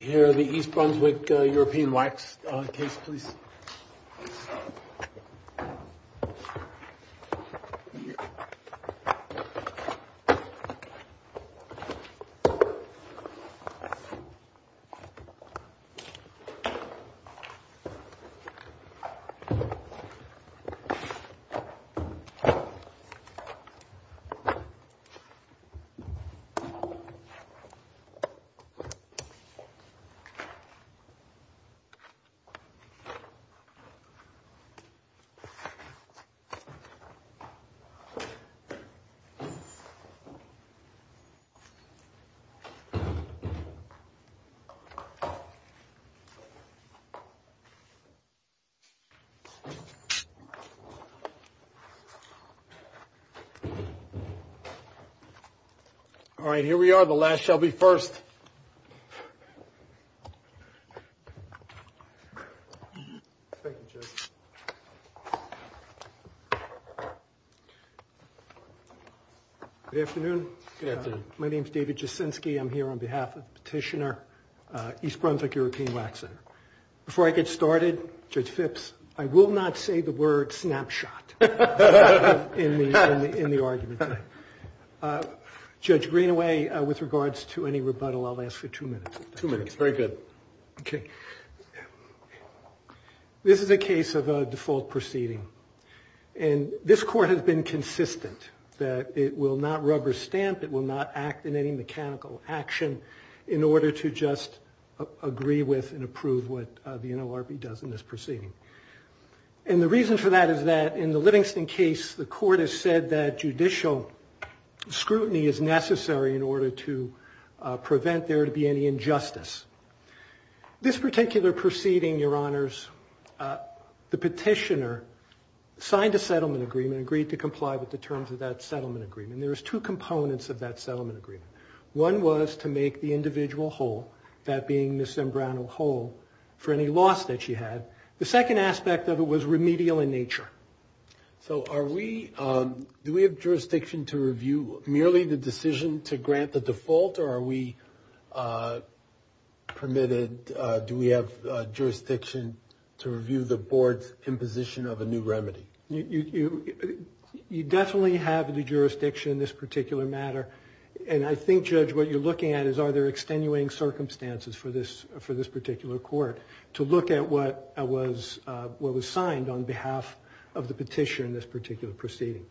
Here are the East Brunswick European Wax case, please. All right, here we are, the last shall be first. Thank you, Judge. Good afternoon. Good afternoon. My name is David Jasinski. I'm here on behalf of the petitioner, East Brunswick European Wax Center. Before I get started, Judge Phipps, I will not say the word snapshot in the argument. Judge Greenaway, with regards to any rebuttal, I'll ask for two minutes. Two minutes, very good. Okay. This is a case of a default proceeding, and this court has been consistent that it will not rubber stamp, it will not act in any mechanical action in order to just agree with and approve what the NLRB does in this proceeding. And the reason for that is that in the Livingston case, the court has said that judicial scrutiny is necessary in order to prevent there to be any injustice. This particular proceeding, Your Honors, the petitioner signed a settlement agreement, agreed to comply with the terms of that settlement agreement. There was two components of that settlement agreement. One was to make the individual whole, that being Ms. Zambrano whole, for any loss that she had. The second aspect of it was remedial in nature. So are we, do we have jurisdiction to review merely the decision to grant the default, or are we permitted, do we have jurisdiction to review the board's imposition of a new remedy? You definitely have the jurisdiction in this particular matter, and I think, Judge, what you're looking at is are there extenuating circumstances for this particular court to look at what was signed on behalf of the petitioner in this particular proceeding.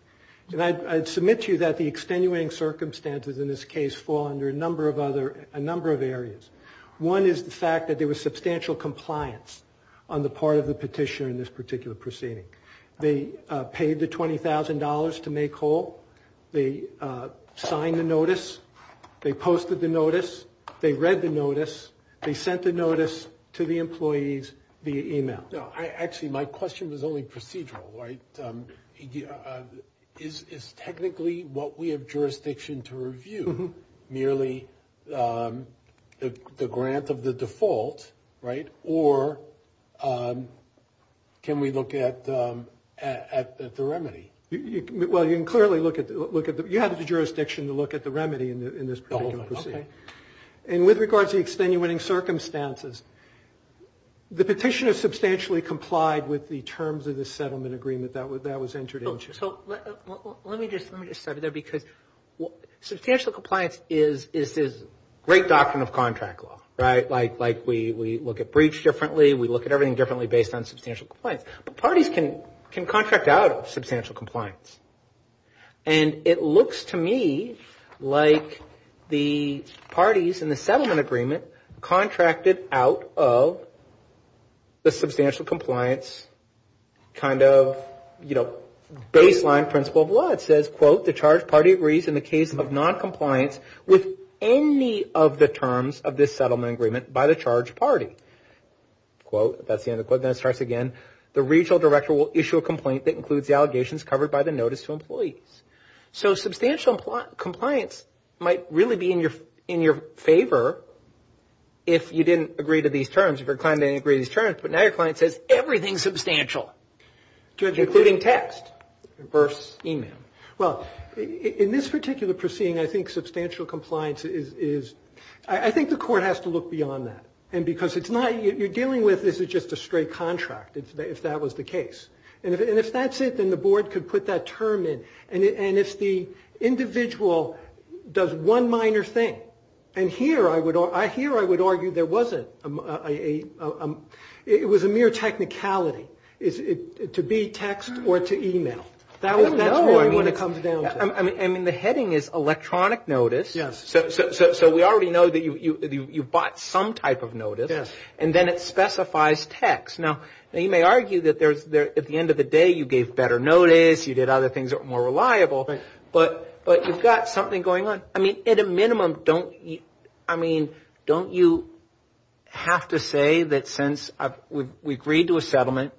And I submit to you that the extenuating circumstances in this case fall under a number of other, a number of areas. One is the fact that there was substantial compliance on the part of the petitioner in this particular proceeding. They paid the $20,000 to make whole. They signed the notice. They posted the notice. They read the notice. They sent the notice to the employees via e-mail. Actually, my question was only procedural, right? Is technically what we have jurisdiction to review merely the grant of the default, right, or can we look at the remedy? Well, you can clearly look at the, you have the jurisdiction to look at the remedy in this particular proceeding. Okay. And with regards to the extenuating circumstances, the petitioner substantially complied with the terms of the settlement agreement that was entered into. So let me just start there because substantial compliance is this great doctrine of contract law, right? Like we look at breach differently. We look at everything differently based on substantial compliance. But parties can contract out of substantial compliance. And it looks to me like the parties in the settlement agreement contracted out of the substantial compliance kind of, you know, baseline principle of law. It says, quote, the charge party agrees in the case of noncompliance with any of the terms of this settlement agreement by the charge party. Quote, that's the end of the quote. Then it starts again. The regional director will issue a complaint that includes the allegations covered by the notice to employees. So substantial compliance might really be in your favor if you didn't agree to these terms, if your client didn't agree to these terms. But now your client says everything's substantial, including text versus e-mail. Well, in this particular proceeding, I think substantial compliance is, I think the court has to look beyond that. And because it's not, you're dealing with, this is just a straight contract, if that was the case. And if that's it, then the board could put that term in. And if the individual does one minor thing, and here I would argue there wasn't a, it was a mere technicality. Is it to be text or to e-mail? That's what it comes down to. I mean, the heading is electronic notice. Yes. So we already know that you bought some type of notice. Yes. And then it specifies text. Now, you may argue that at the end of the day you gave better notice, you did other things that were more reliable. Right. But you've got something going on. I mean, at a minimum, don't you have to say that since we agreed to a settlement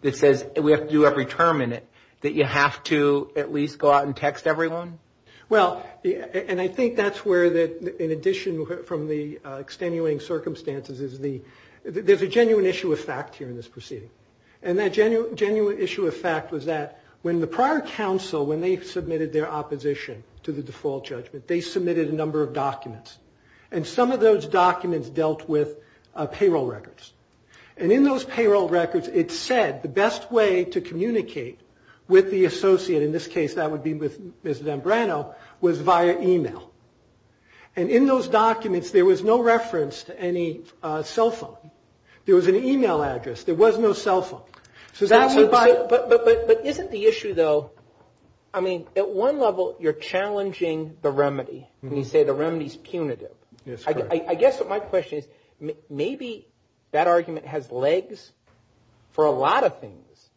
that says we have to do every term in it, that you have to at least go out and text everyone? Well, and I think that's where, in addition from the extenuating circumstances, there's a genuine issue of fact here in this proceeding. And that genuine issue of fact was that when the prior counsel, when they submitted their opposition to the default judgment, they submitted a number of documents. And some of those documents dealt with payroll records. And in those payroll records, it said the best way to communicate with the associate, and in this case that would be with Ms. Zambrano, was via e-mail. And in those documents, there was no reference to any cell phone. There was an e-mail address. There was no cell phone. But isn't the issue, though, I mean, at one level you're challenging the remedy when you say the remedy is punitive. Yes, correct. I guess what my question is, maybe that argument has legs for a lot of things,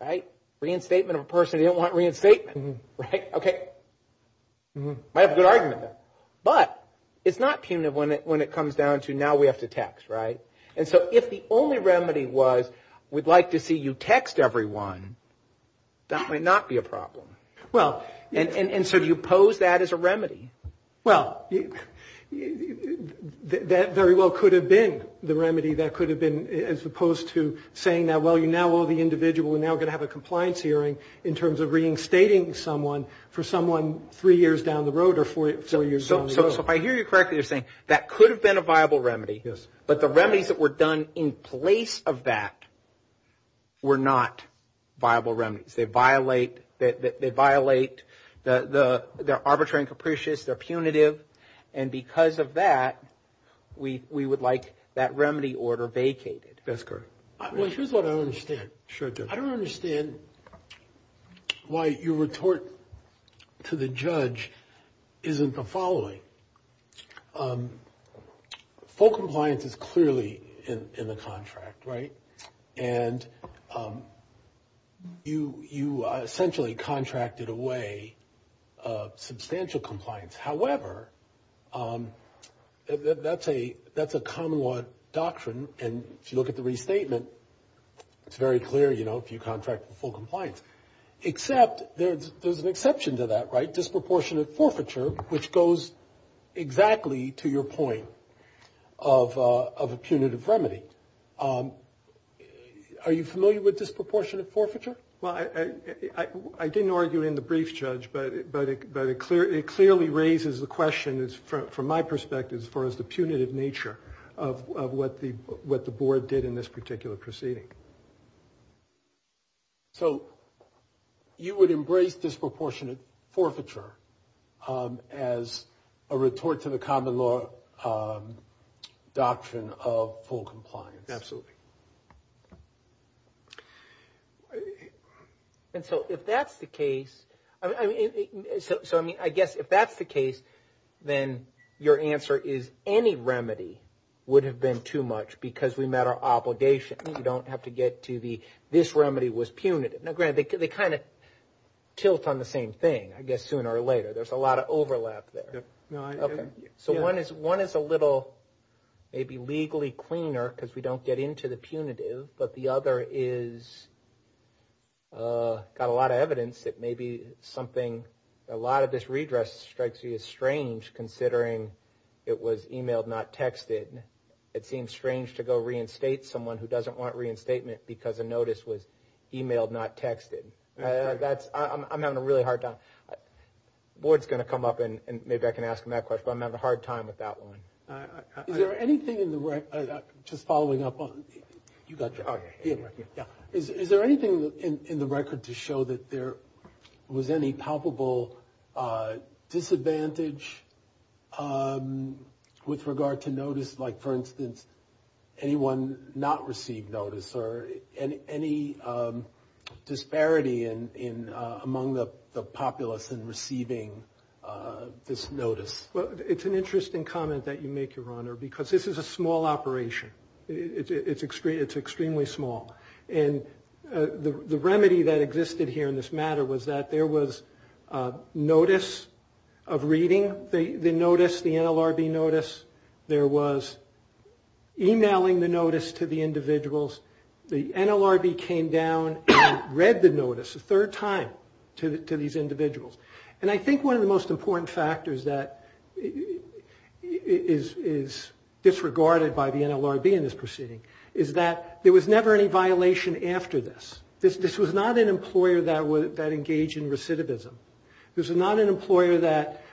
right? Reinstatement of a person who didn't want reinstatement, right? Okay. Might have a good argument there. But it's not punitive when it comes down to now we have to text, right? And so if the only remedy was we'd like to see you text everyone, that might not be a problem. Well, and so do you pose that as a remedy? Well, that very well could have been the remedy. That could have been as opposed to saying that, well, you now owe the individual. We're now going to have a compliance hearing in terms of reinstating someone for someone three years down the road or four years down the road. So if I hear you correctly, you're saying that could have been a viable remedy. Yes. But the remedies that were done in place of that were not viable remedies. They violate the arbitrary and capricious. They're punitive. And because of that, we would like that remedy order vacated. That's correct. Well, here's what I don't understand. Sure, Dick. I don't understand why your retort to the judge isn't the following. Full compliance is clearly in the contract, right? And you essentially contracted away substantial compliance. However, that's a common law doctrine. And if you look at the restatement, it's very clear, you know, if you contract for full compliance. Except there's an exception to that, right? Disproportionate forfeiture, which goes exactly to your point of a punitive remedy. Are you familiar with disproportionate forfeiture? Well, I didn't argue in the brief, Judge, but it clearly raises the question, from my perspective, as far as the punitive nature of what the board did in this particular proceeding. So you would embrace disproportionate forfeiture as a retort to the common law doctrine of full compliance? Absolutely. And so if that's the case, I guess if that's the case, then your answer is any remedy would have been too much because we met our obligation. You don't have to get to the, this remedy was punitive. Now, granted, they kind of tilt on the same thing, I guess, sooner or later. There's a lot of overlap there. So one is a little maybe legally cleaner because we don't get into the punitive, but the other is got a lot of evidence that maybe something, a lot of this redress strikes you as strange considering it was emailed, not texted. It seems strange to go reinstate someone who doesn't want reinstatement because a notice was emailed, not texted. I'm having a really hard time. The board's going to come up and maybe I can ask them that question, but I'm having a hard time with that one. Is there anything in the record, just following up on, you got your, yeah. Is there anything in the record to show that there was any palpable disadvantage with regard to notice, like for instance, anyone not receive notice or any disparity among the populace in receiving this notice? Well, it's an interesting comment that you make, Your Honor, because this is a small operation. It's extremely small. And the remedy that existed here in this matter was that there was notice of reading the notice, the NLRB notice. There was emailing the notice to the individuals. The NLRB came down and read the notice a third time to these individuals. And I think one of the most important factors that is disregarded by the NLRB in this proceeding is that there was never any violation after this. This was not an employer that engaged in recidivism. This was not an employer that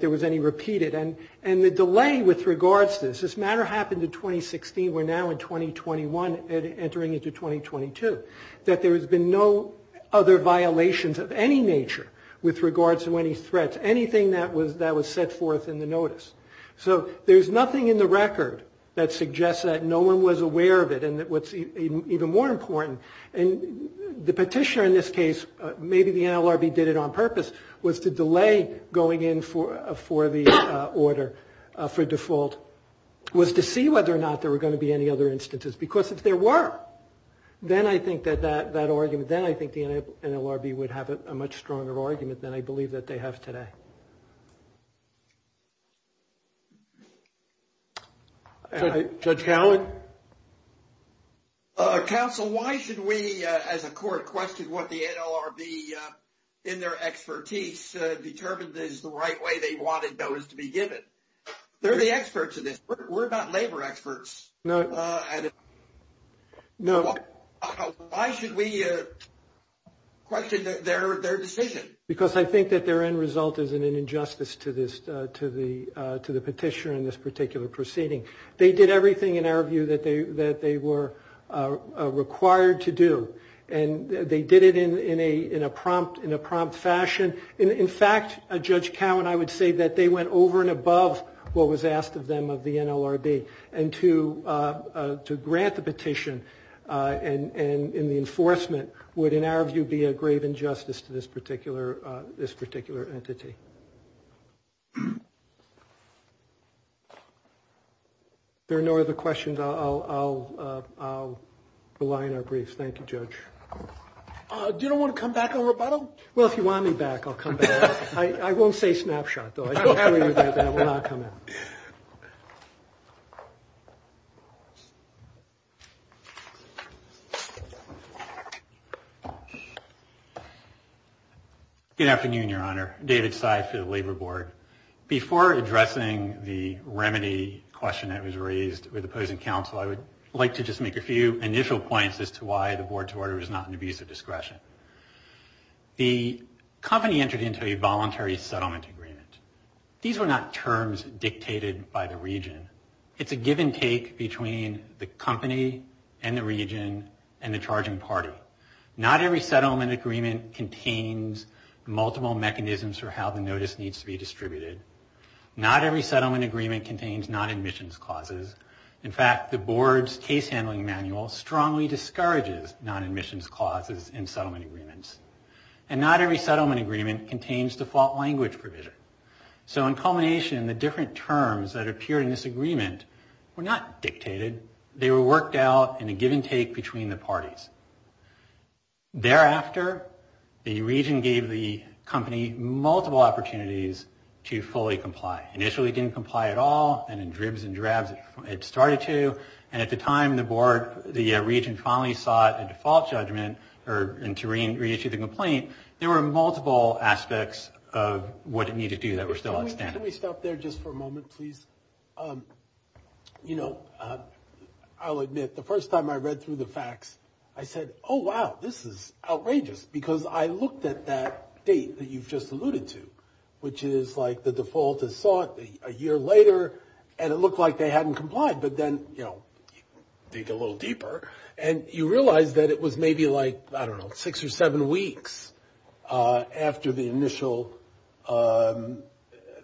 there was any repeated. And the delay with regards to this, this matter happened in 2016. We're now in 2021 entering into 2022. That there has been no other violations of any nature with regards to any threats, anything that was set forth in the notice. So there's nothing in the record that suggests that no one was aware of it. And what's even more important, the petitioner in this case, maybe the NLRB did it on purpose, was to delay going in for the order for default, was to see whether or not there were going to be any other instances. Because if there were, then I think that that argument, then I think the NLRB would have a much stronger argument than I believe that they have today. Judge Cowen? Counsel, why should we, as a court, question what the NLRB in their expertise determined is the right way they wanted those to be given? They're the experts in this. We're not labor experts. No. Why should we question their decision? Because I think that their end result is an injustice to the petitioner in this particular proceeding. They did everything in our view that they were required to do, and they did it in a prompt fashion. In fact, Judge Cowen, I would say that they went over and above what was asked of them of the NLRB. And to grant the petition and the enforcement would, in our view, be a grave injustice to this particular entity. If there are no other questions, I'll rely on our briefs. Thank you, Judge. Do you want to come back on rebuttal? Well, if you want me back, I'll come back. I won't say snapshot, though. I assure you that that will not come out. Good afternoon, Your Honor. David Seif for the Labor Board. Before addressing the remedy question that was raised with opposing counsel, I would like to just make a few initial points as to why the board's order is not an abuse of discretion. The company entered into a voluntary settlement agreement. These were not terms dictated by the region. It's a give-and-take between the company and the region and the charging party. Not every settlement agreement contains multiple mechanisms for how the notice needs to be distributed. Not every settlement agreement contains non-admissions clauses. In fact, the board's case handling manual strongly discourages non-admissions clauses in settlement agreements. And not every settlement agreement contains default language provision. So in culmination, the different terms that appeared in this agreement were not dictated. They were worked out in a give-and-take between the parties. Thereafter, the region gave the company multiple opportunities to fully comply. Initially, it didn't comply at all, and in dribs and drabs, it started to. And at the time the board, the region finally sought a default judgment to reissue the complaint, there were multiple aspects of what it needed to do that were still outstanding. Can we stop there just for a moment, please? You know, I'll admit, the first time I read through the facts, I said, oh, wow, this is outrageous, because I looked at that date that you've just alluded to, which is like the default is sought a year later, and it looked like they hadn't complied. But then, you know, dig a little deeper, and you realize that it was maybe like, I don't know, six or seven weeks after the initial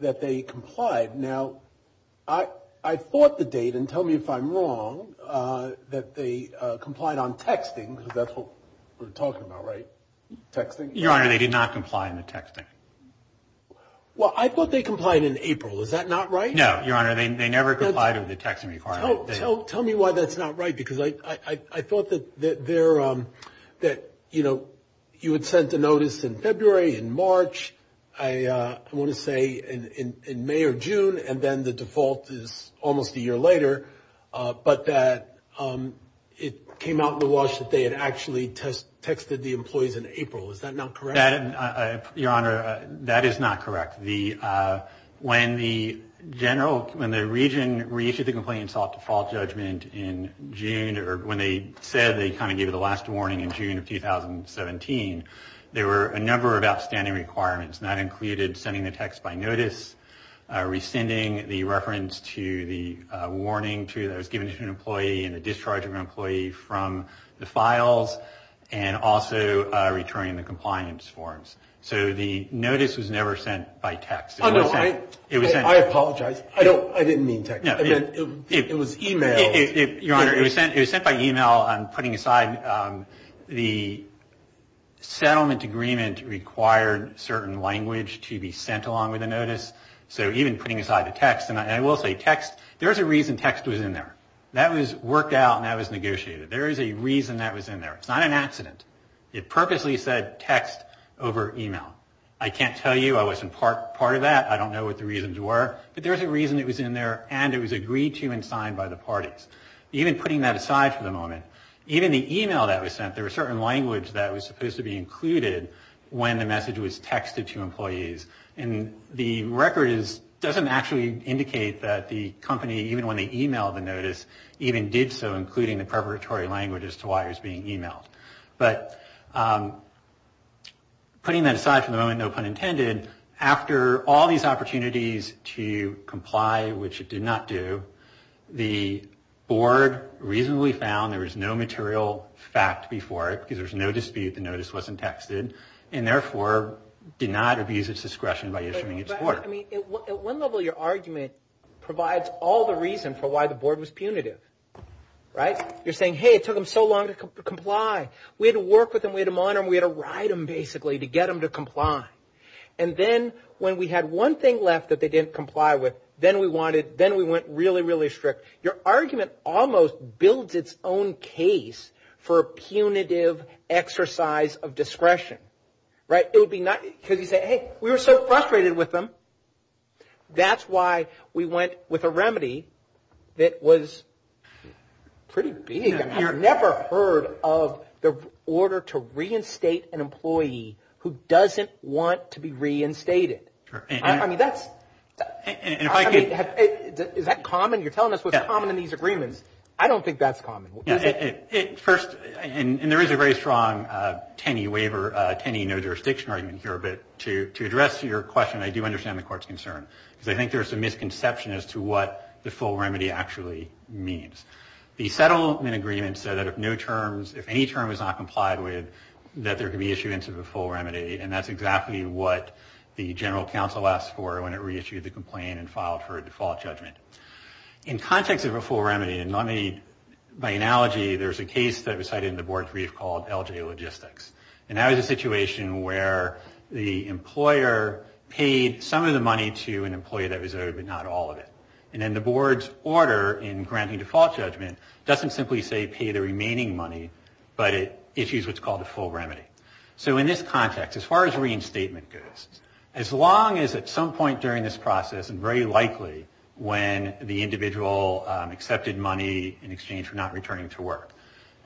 that they complied. Now, I thought the date, and tell me if I'm wrong, that they complied on texting, because that's what we're talking about, right, texting? Your Honor, they did not comply on the texting. Well, I thought they complied in April. Is that not right? No, Your Honor, they never complied with the texting requirement. Tell me why that's not right, because I thought that you had sent a notice in February, in March, I want to say in May or June, and then the default is almost a year later, but that it came out in the wash that they had actually texted the employees in April. Is that not correct? Your Honor, that is not correct. When the region reissued the complaint and sought default judgment in June, or when they said they kind of gave it a last warning in June of 2017, there were a number of outstanding requirements, and that included sending the text by notice, rescinding the reference to the warning that was given to an employee and the discharge of an employee from the files, and also returning the compliance forms. So the notice was never sent by text. I apologize. I didn't mean text. It was e-mail. Your Honor, it was sent by e-mail. I'm putting aside the settlement agreement required certain language to be sent along with the notice. So even putting aside the text, and I will say text, there's a reason text was in there. That was worked out and that was negotiated. There is a reason that was in there. It's not an accident. It purposely said text over e-mail. I can't tell you I wasn't part of that. I don't know what the reasons were, but there's a reason it was in there and it was agreed to and signed by the parties. Even putting that aside for the moment, even the e-mail that was sent, there was certain language that was supposed to be included when the message was texted to employees, and the record doesn't actually indicate that the company, even when they e-mailed the notice, even did so including the preparatory language as to why it was being e-mailed. But putting that aside for the moment, no pun intended, after all these opportunities to comply, which it did not do, the board reasonably found there was no material fact before it because there was no dispute the notice wasn't texted and therefore did not abuse its discretion by issuing its order. I mean, at what level your argument provides all the reason for why the board was punitive, right? You're saying, hey, it took them so long to comply. We had to work with them. We had to monitor them. We had to ride them basically to get them to comply. And then when we had one thing left that they didn't comply with, then we went really, really strict. Your argument almost builds its own case for a punitive exercise of discretion, right? It would be not because you say, hey, we were so frustrated with them. That's why we went with a remedy that was pretty big. I've never heard of the order to reinstate an employee who doesn't want to be reinstated. I mean, that's – is that common? You're telling us what's common in these agreements. I don't think that's common. First, and there is a very strong TANI waiver, TANI no jurisdiction argument here, but to address your question, I do understand the court's concern because I think there's a misconception as to what the full remedy actually means. The settlement agreement said that if no terms – if any term is not complied with, that there could be issuance of a full remedy, and that's exactly what the general counsel asked for when it reissued the complaint and filed for a default judgment. In context of a full remedy, and let me – by analogy, there's a case that was cited in the board's brief called LJ Logistics. And that was a situation where the employer paid some of the money to an employee that was owed but not all of it. And then the board's order in granting default judgment doesn't simply say pay the remaining money, but it issues what's called a full remedy. So in this context, as far as reinstatement goes, as long as at some point during this process, and very likely when the individual accepted money in exchange for not returning to work,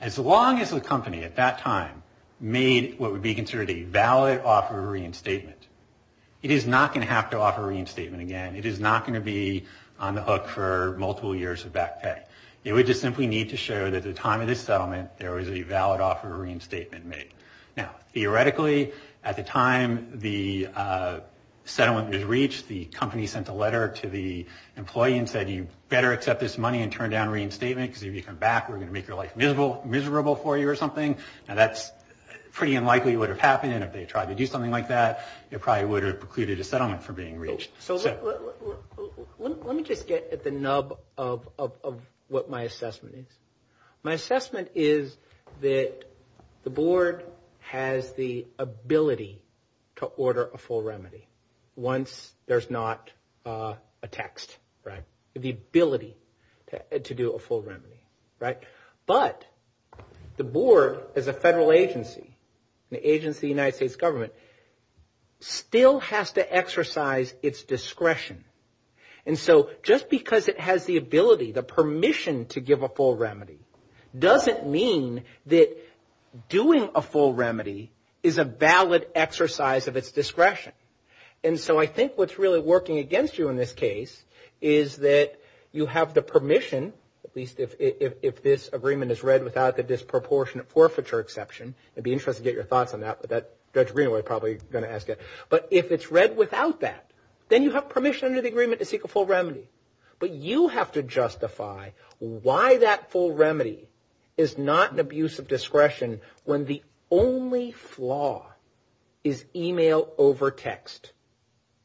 as long as the company at that time made what would be considered a valid offer of reinstatement, it is not going to have to offer reinstatement again. It is not going to be on the hook for multiple years of back pay. It would just simply need to show that at the time of this settlement, there was a valid offer of reinstatement made. Now, theoretically, at the time the settlement was reached, the company sent a letter to the employee and said, you better accept this money and turn down reinstatement, because if you come back, we're going to make your life miserable for you or something. Now, that's pretty unlikely would have happened, and if they tried to do something like that, it probably would have precluded a settlement from being reached. So let me just get at the nub of what my assessment is. My assessment is that the board has the ability to order a full remedy once there's not a text. The ability to do a full remedy, right? But the board as a federal agency, an agency in the United States government, still has to exercise its discretion. And so just because it has the ability, the permission to give a full remedy, doesn't mean that doing a full remedy is a valid exercise of its discretion. And so I think what's really working against you in this case is that you have the permission, at least if this agreement is read without the disproportionate forfeiture exception. I'd be interested to get your thoughts on that, but Judge Greenaway is probably going to ask it. But if it's read without that, then you have permission under the agreement to seek a full remedy. But you have to justify why that full remedy is not an abuse of discretion when the only flaw is email over text.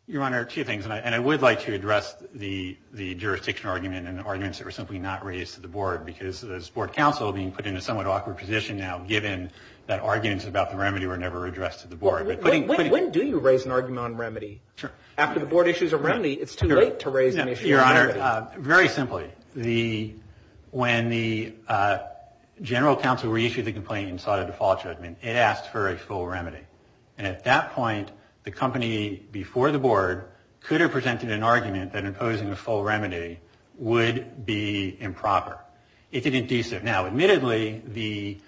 Your Honor, two things, and I would like to address the jurisdiction argument and the arguments that were simply not raised to the board, because this board counsel being put in a somewhat awkward position now, given that arguments about the remedy were never addressed to the board. When do you raise an argument on remedy? After the board issues a remedy, it's too late to raise an issue on remedy. Very simply, when the general counsel reissued the complaint and sought a default judgment, it asked for a full remedy. And at that point, the company before the board could have presented an argument that imposing a full remedy would be improper. It didn't do so. Now, admittedly, the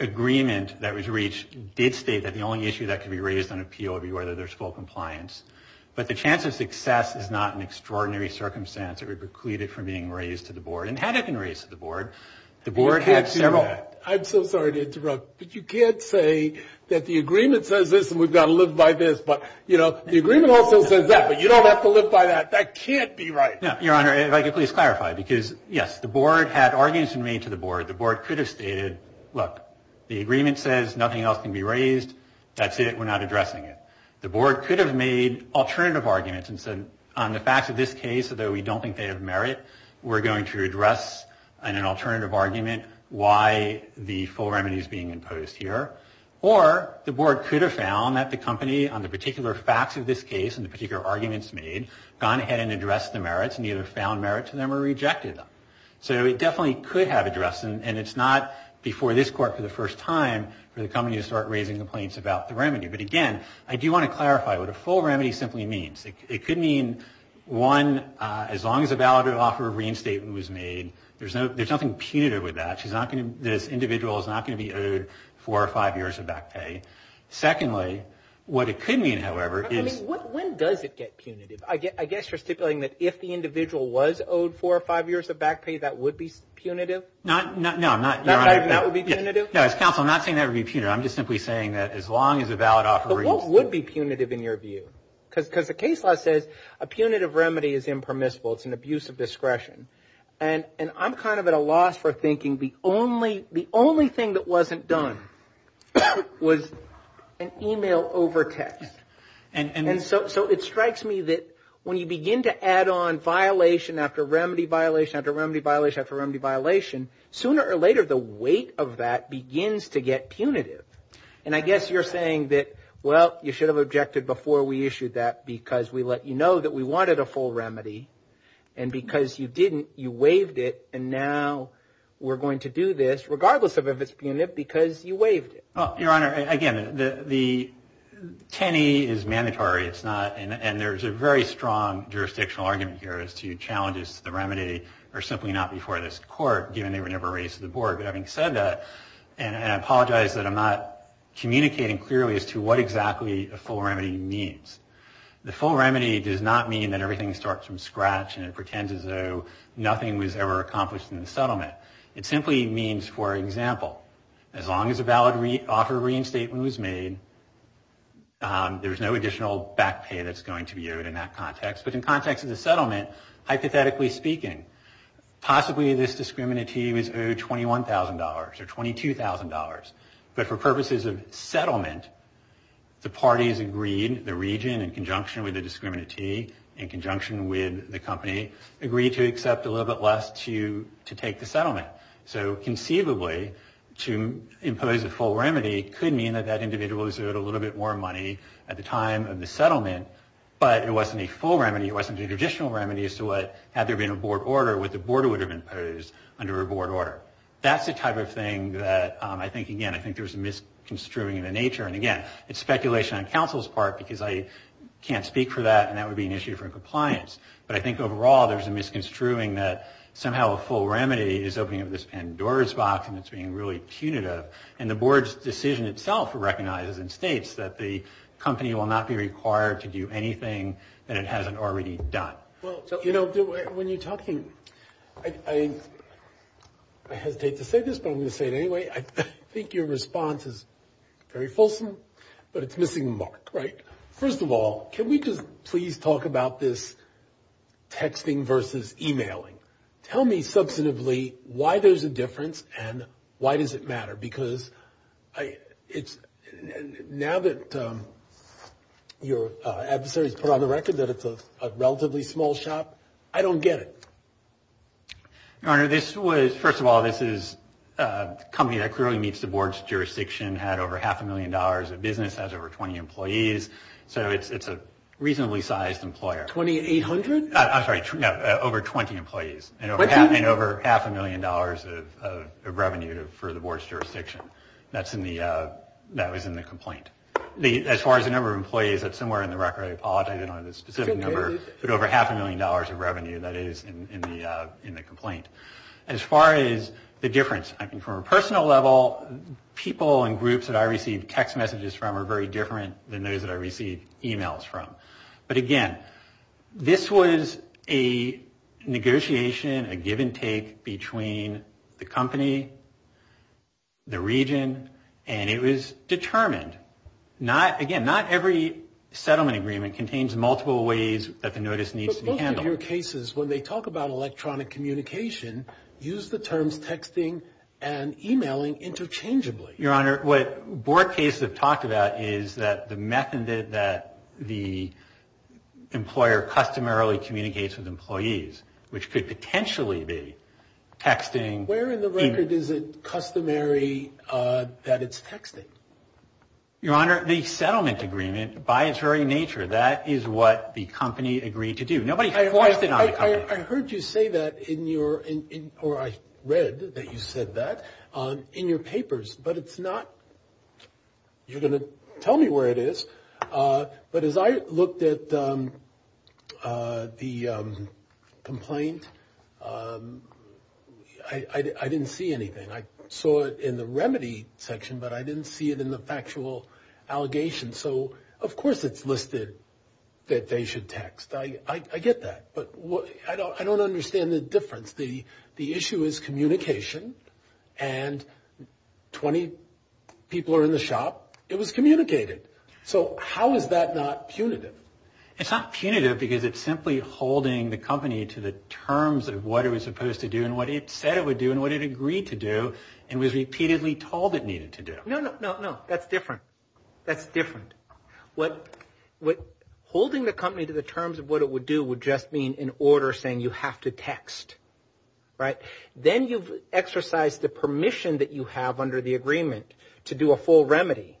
agreement that was reached did state that the only issue that could be raised on appeal would be whether there's full compliance. But the chance of success is not an extraordinary circumstance that would preclude it from being raised to the board. And had it been raised to the board, the board had several ‑‑ I'm so sorry to interrupt, but you can't say that the agreement says this and we've got to live by this. But, you know, the agreement also says that, but you don't have to live by that. That can't be right. Your Honor, if I could please clarify, because, yes, the board had arguments made to the board. The board could have stated, look, the agreement says nothing else can be raised. That's it. We're not addressing it. The board could have made alternative arguments and said, on the facts of this case, although we don't think they have merit, we're going to address in an alternative argument why the full remedy is being imposed here. Or the board could have found that the company, on the particular facts of this case and the particular arguments made, gone ahead and addressed the merits and either found merit to them or rejected them. So it definitely could have addressed them. And it's not before this Court for the first time for the company to start raising complaints about the remedy. But, again, I do want to clarify what a full remedy simply means. It could mean, one, as long as a valid offer of reinstatement was made, there's nothing punitive with that. This individual is not going to be owed four or five years of back pay. Secondly, what it could mean, however, is – I mean, when does it get punitive? I guess you're stipulating that if the individual was owed four or five years of back pay, that would be punitive? No, I'm not – No, as counsel, I'm not saying that would be punitive. I'm just simply saying that as long as a valid offer – But what would be punitive in your view? Because the case law says a punitive remedy is impermissible. It's an abuse of discretion. And I'm kind of at a loss for thinking the only thing that wasn't done was an email over text. And so it strikes me that when you begin to add on violation after remedy, violation after remedy, violation after remedy, violation, sooner or later the weight of that begins to get punitive. And I guess you're saying that, well, you should have objected before we issued that because we let you know that we wanted a full remedy. And because you didn't, you waived it. And now we're going to do this, regardless of if it's punitive, because you waived it. Your Honor, again, the – 10E is mandatory. It's not – And there's a very strong jurisdictional argument here as to challenges to the remedy are simply not before this Court, given they were never raised to the Board. But having said that, and I apologize that I'm not communicating clearly as to what exactly a full remedy means. The full remedy does not mean that everything starts from scratch and it pretends as though nothing was ever accomplished in the settlement. It simply means, for example, as long as a valid offer of reinstatement was made, there's no additional back pay that's going to be owed in that context. But in context of the settlement, hypothetically speaking, possibly this discriminatee was owed $21,000 or $22,000. But for purposes of settlement, the parties agreed, the region in conjunction with the discriminatee, in conjunction with the company, agreed to accept a little bit less to take the settlement. So conceivably, to impose a full remedy could mean that that individual But it wasn't a full remedy. It wasn't a traditional remedy as to what, had there been a Board order, what the Board would have imposed under a Board order. That's the type of thing that I think, again, I think there's a misconstruing of the nature. And again, it's speculation on counsel's part because I can't speak for that and that would be an issue for compliance. But I think overall there's a misconstruing that somehow a full remedy is opening up this Pandora's box and it's being really punitive. And the Board's decision itself recognizes and states that the company will not be required to do anything that it hasn't already done. Well, you know, when you're talking, I hesitate to say this, but I'm going to say it anyway. I think your response is very fulsome, but it's missing the mark, right? First of all, can we just please talk about this texting versus emailing? Tell me substantively why there's a difference and why does it matter? Because now that your adversaries put on the record that it's a relatively small shop, I don't get it. Your Honor, this was, first of all, this is a company that clearly meets the Board's jurisdiction, had over half a million dollars of business, has over 20 employees. So it's a reasonably sized employer. 2,800? I'm sorry, over 20 employees. And over half a million dollars of revenue for the Board's jurisdiction. That was in the complaint. As far as the number of employees, that's somewhere in the record. I apologize, I don't have the specific number. But over half a million dollars of revenue, that is, in the complaint. As far as the difference, I mean, from a personal level, people and groups that I receive text messages from are very different than those that I receive emails from. But, again, this was a negotiation, a give and take between the company, the region, and it was determined. Again, not every settlement agreement contains multiple ways that the notice needs to be handled. But most of your cases, when they talk about electronic communication, use the terms texting and emailing interchangeably. Your Honor, what Board cases have talked about is that the method that the employer customarily communicates with employees, which could potentially be texting. Where in the record is it customary that it's texting? Your Honor, the settlement agreement, by its very nature, that is what the company agreed to do. Nobody forced it on the company. I heard you say that in your, or I read that you said that, in your papers. But it's not, you're going to tell me where it is. But as I looked at the complaint, I didn't see anything. I saw it in the remedy section, but I didn't see it in the factual allegation. So, of course it's listed that they should text. I get that. But I don't understand the difference. The issue is communication, and 20 people are in the shop. It was communicated. So how is that not punitive? It's not punitive because it's simply holding the company to the terms of what it was supposed to do and what it said it would do and what it agreed to do and was repeatedly told it needed to do. No, no, no, no. That's different. That's different. What, holding the company to the terms of what it would do would just mean in order saying you have to text. Right? Then you've exercised the permission that you have under the agreement to do a full remedy.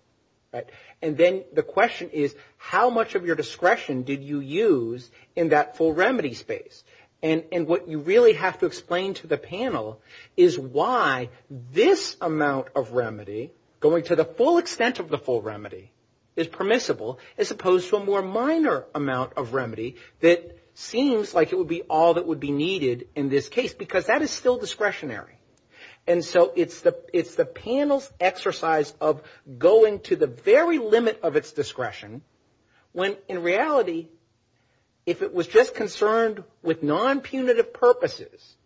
Right? And then the question is how much of your discretion did you use in that full remedy space? And what you really have to explain to the panel is why this amount of remedy, going to the full extent of the full remedy, is permissible as opposed to a more minor amount of remedy that seems like it would be all that would be needed in this case because that is still discretionary. And so it's the panel's exercise of going to the very limit of its discretion when in reality, if it was just concerned with non-punitive purposes,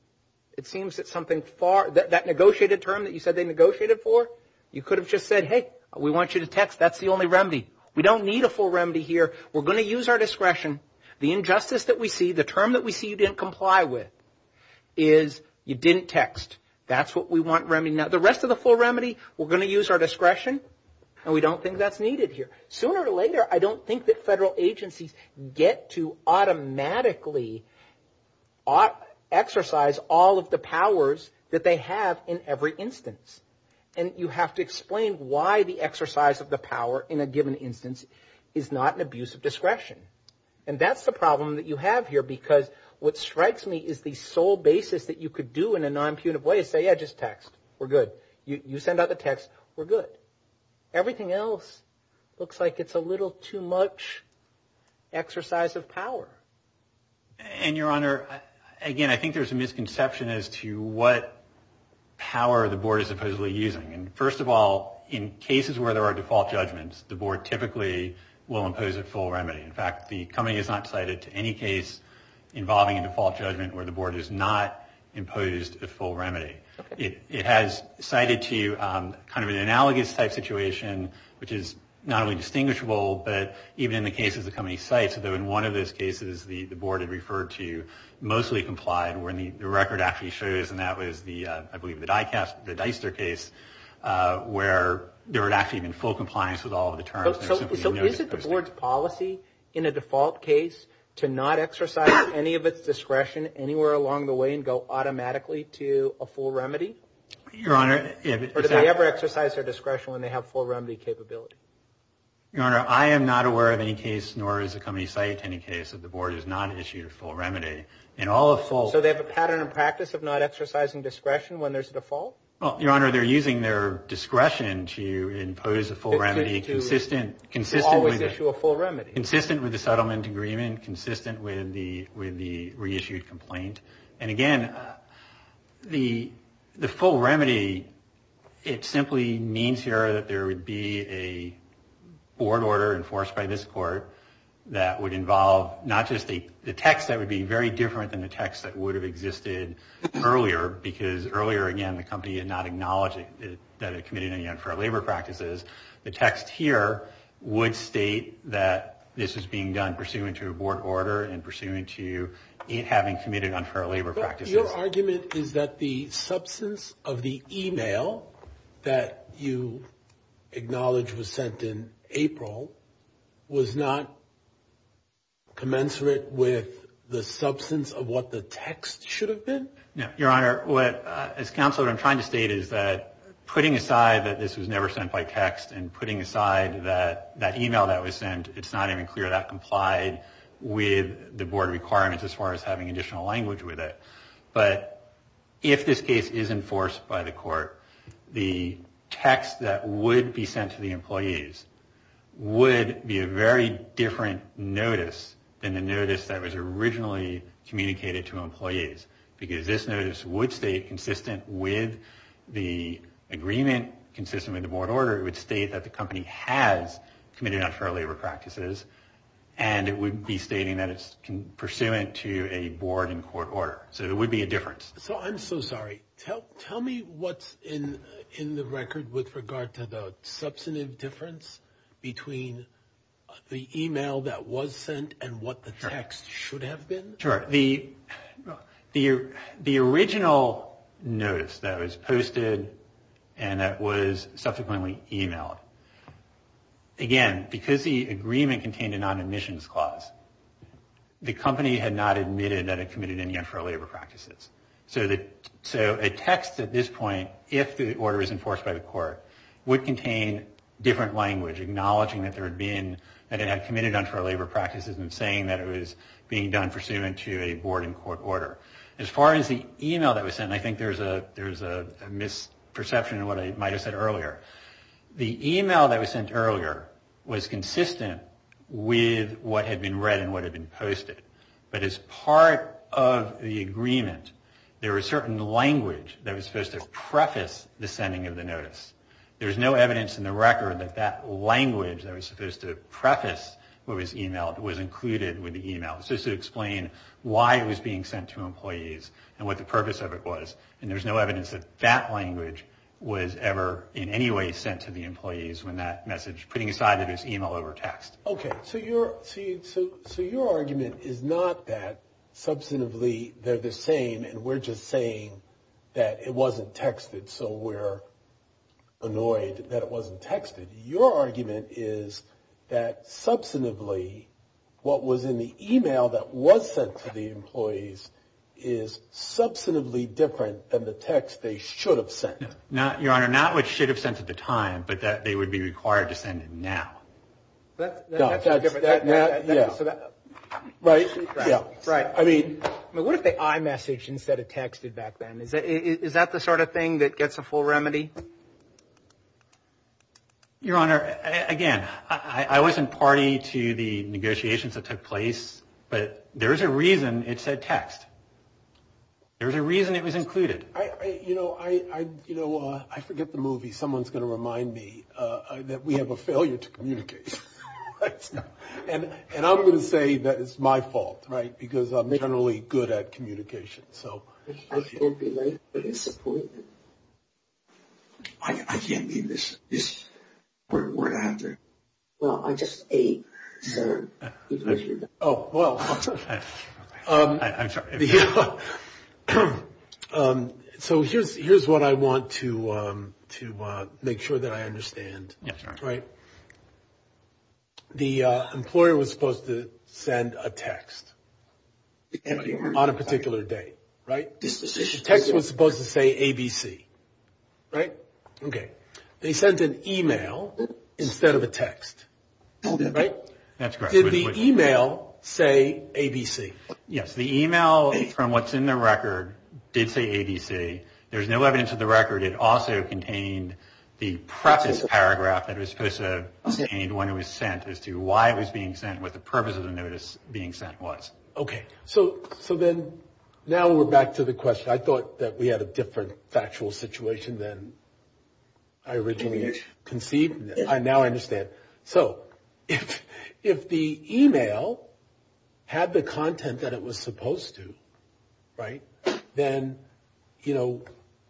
it seems that something far, that negotiated term that you said they negotiated for, you could have just said, hey, we want you to text. That's the only remedy. We don't need a full remedy here. We're going to use our discretion. The injustice that we see, the term that we see you didn't comply with is you didn't text. That's what we want remedied. Now, the rest of the full remedy, we're going to use our discretion, and we don't think that's needed here. Sooner or later, I don't think that federal agencies get to automatically exercise all of the powers that they have in every instance. And you have to explain why the exercise of the power in a given instance is not an abuse of discretion. And that's the problem that you have here because what strikes me is the sole basis that you could do in a non-punitive way is say, yeah, just text. We're good. You send out the text. We're good. And, Your Honor, again, I think there's a misconception as to what power the board is supposedly using. And first of all, in cases where there are default judgments, the board typically will impose a full remedy. In fact, the company is not cited to any case involving a default judgment where the board has not imposed a full remedy. It has cited to kind of an analogous type situation, which is not only distinguishable, but even in the cases the company cites, in one of those cases, the board had referred to mostly complied where the record actually shows, and that was, I believe, the Dicester case, where there had actually been full compliance with all of the terms. So is it the board's policy in a default case to not exercise any of its discretion anywhere along the way and go automatically to a full remedy? Your Honor. Or does it ever exercise their discretion when they have full remedy capability? Your Honor, I am not aware of any case, nor is the company cited to any case, that the board has not issued a full remedy. In all of full. So they have a pattern of practice of not exercising discretion when there's a default? Well, Your Honor, they're using their discretion to impose a full remedy consistent. To always issue a full remedy. Consistent with the settlement agreement, consistent with the reissued complaint. And again, the full remedy, it simply means here that there would be a board order enforced by this court that would involve not just the text that would be very different than the text that would have existed earlier, because earlier, again, the company had not acknowledged that it committed any unfair labor practices. The text here would state that this was being done pursuant to a board order and pursuant to it having committed unfair labor practices. Your argument is that the substance of the email that you acknowledge was sent in April was not commensurate with the substance of what the text should have been? No. Your Honor, as counsel, what I'm trying to state is that putting aside that this was never sent by text and putting aside that email that was sent, it's not even clear that complied with the board requirements as far as having additional language with it. But if this case is enforced by the court, the text that would be sent to the employees would be a very different notice than the notice that was originally communicated to employees, because this notice would state consistent with the agreement, consistent with the board order. It would state that the company has committed unfair labor practices, and it would be stating that it's pursuant to a board and court order. So there would be a difference. So I'm so sorry. Tell me what's in the record with regard to the substantive difference between the email that was sent and what the text should have been. Sure. The original notice that was posted and that was subsequently emailed, again, because the agreement contained a non-admissions clause, the company had not admitted that it committed any unfair labor practices. So a text at this point, if the order is enforced by the court, would contain different language, acknowledging that it had committed unfair labor practices and saying that it was being done pursuant to a board and court order. As far as the email that was sent, I think there's a misperception in what I might have said earlier. The email that was sent earlier was consistent with what had been read and what had been posted. But as part of the agreement, there was certain language that was supposed to preface the sending of the notice. There's no evidence in the record that that language that was supposed to preface what was emailed was included with the email. It's just to explain why it was being sent to employees and what the purpose of it was. And there's no evidence that that language was ever in any way sent to the employees when that message, putting aside that it was email over text. Okay. So your argument is not that substantively they're the same and we're just saying that it wasn't texted. So we're annoyed that it wasn't texted. Your argument is that substantively what was in the email that was sent to the employees is substantively different than the text they should have sent. Your Honor, not what should have sent at the time, but that they would be required to send it now. That's not different. Yeah. Right? Yeah. Right. I mean, what if they iMessaged instead of texted back then? Is that the sort of thing that gets a full remedy? Your Honor, again, I wasn't party to the negotiations that took place, but there's a reason it said text. There's a reason it was included. You know, I forget the movie. Someone's going to remind me that we have a failure to communicate. And I'm going to say that it's my fault, right, because I'm generally good at communication. I can't believe the disappointment. I can't leave this word out there. Well, I just ate, sir. Oh, well. I'm sorry. So here's what I want to make sure that I understand. Yes, Your Honor. Right? The employer was supposed to send a text on a particular date, right? The text was supposed to say ABC, right? Okay. They sent an e-mail instead of a text, right? That's correct. Did the e-mail say ABC? Yes. The e-mail from what's in the record did say ABC. There's no evidence of the record. It also contained the preface paragraph that it was supposed to contain when it was sent as to why it was being sent, what the purpose of the notice being sent was. Okay. So then now we're back to the question. I thought that we had a different factual situation than I originally conceived. Now I understand. Okay. So if the e-mail had the content that it was supposed to, right, then, you know,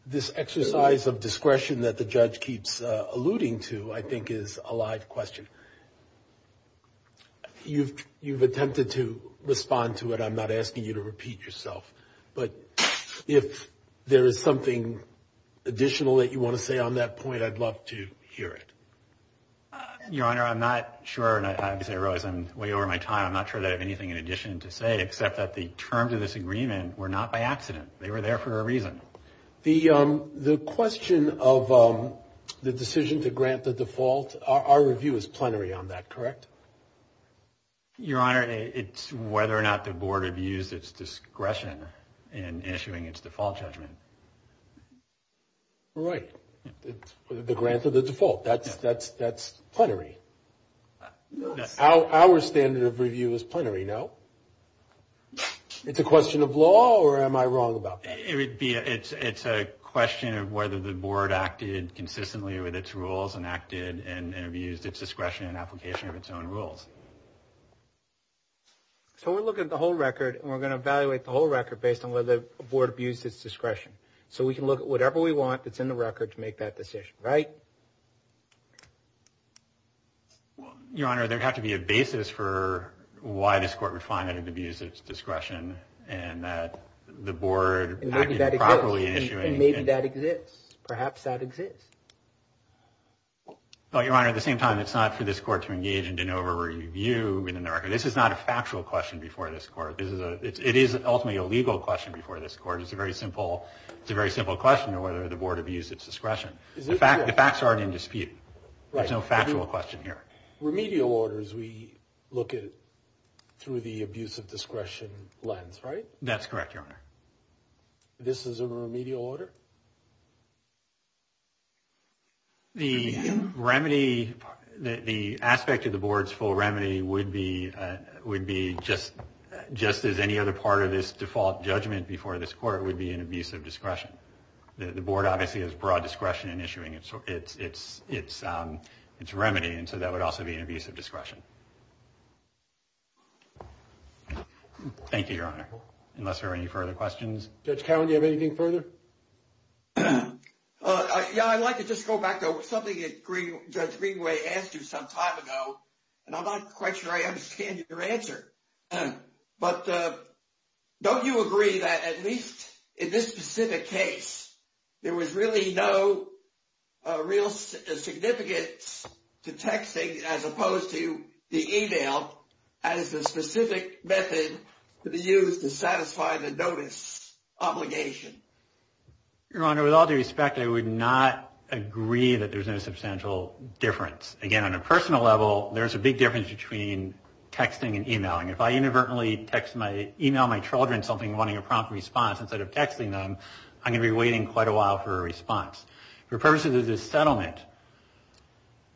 this exercise of discretion that the judge keeps alluding to I think is a live question. You've attempted to respond to it. I'm not asking you to repeat yourself. But if there is something additional that you want to say on that point, I'd love to hear it. Your Honor, I'm not sure, and I have to say, Rose, I'm way over my time, I'm not sure that I have anything in addition to say except that the terms of this agreement were not by accident. They were there for a reason. The question of the decision to grant the default, our review is plenary on that, correct? Your Honor, it's whether or not the board abused its discretion in issuing its default judgment. Right. The grant of the default. That's plenary. Our standard of review is plenary, no? It's a question of law or am I wrong about that? It's a question of whether the board acted consistently with its rules and acted and abused its discretion in application of its own rules. So we're looking at the whole record and we're going to evaluate the whole record based on whether the board abused its discretion. So we can look at whatever we want that's in the record to make that decision, right? Your Honor, there would have to be a basis for why this court would find that it abused its discretion and that the board acted improperly in issuing. Then maybe that exists. Perhaps that exists. Your Honor, at the same time, it's not for this court to engage in de novo review within the record. This is not a factual question before this court. It is ultimately a legal question before this court. It's a very simple question of whether the board abused its discretion. The facts are already in dispute. There's no factual question here. Remedial orders we look at through the abuse of discretion lens, right? That's correct, Your Honor. This is a remedial order? The remedy, the aspect of the board's full remedy would be just as any other part of this default judgment before this court would be an abuse of discretion. The board obviously has broad discretion in issuing its remedy, and so that would also be an abuse of discretion. Thank you, Your Honor, unless there are any further questions. Judge Cowen, do you have anything further? Yeah, I'd like to just go back to something that Judge Greenway asked you some time ago, and I'm not quite sure I understand your answer. But don't you agree that at least in this specific case, there was really no real significance to texting as opposed to the e-mail as a specific method to be used to satisfy the notice obligation? Your Honor, with all due respect, I would not agree that there's no substantial difference. Again, on a personal level, there's a big difference between texting and e-mailing. If I inadvertently e-mail my children something wanting a prompt response instead of texting them, I'm going to be waiting quite a while for a response. For purposes of this settlement,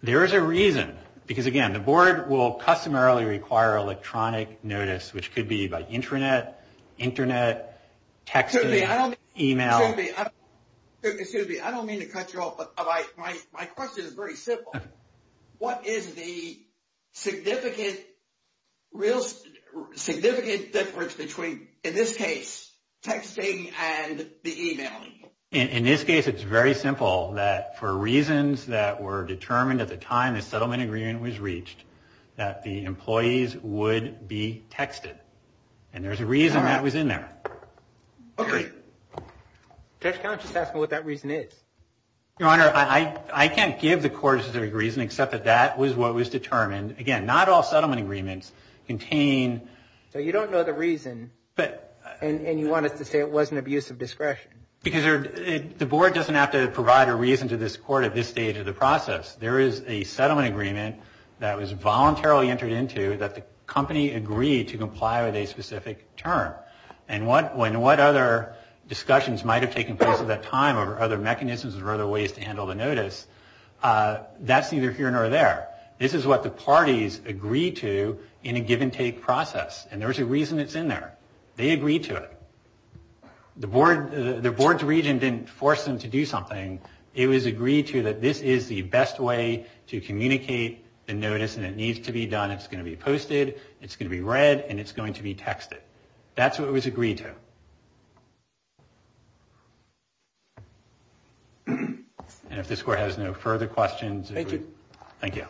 there is a reason. Because again, the board will customarily require electronic notice, which could be by intranet, internet, texting, e-mail. Excuse me, I don't mean to cut you off, but my question is very simple. What is the significant difference between, in this case, texting and the e-mailing? In this case, it's very simple. That for reasons that were determined at the time the settlement agreement was reached, that the employees would be texted. And there's a reason that was in there. Okay. Judge, can I just ask what that reason is? Your Honor, I can't give the court a specific reason except that that was what was determined. Again, not all settlement agreements contain. So you don't know the reason, and you want us to say it was an abuse of discretion. Because the board doesn't have to provide a reason to this court at this stage of the process. There is a settlement agreement that was voluntarily entered into that the company agreed to comply with a specific term. And when what other discussions might have taken place at that time or other mechanisms or other ways to handle the notice, that's neither here nor there. This is what the parties agreed to in a give and take process. And there's a reason it's in there. They agreed to it. The board's region didn't force them to do something. It was agreed to that this is the best way to communicate the notice and it needs to be done. It's going to be posted. It's going to be read. And it's going to be texted. That's what it was agreed to. And if this court has no further questions. Thank you. Thank you.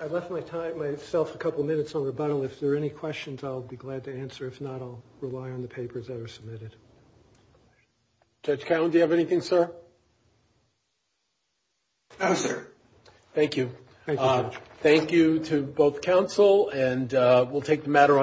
I left myself a couple minutes on rebuttal. If there are any questions, I'll be glad to answer. If not, I'll rely on the papers that are submitted. Judge Cowen, do you have anything, sir? No, sir. Thank you. Thank you, Judge. Thank you to both counsel. And we'll take the matter on.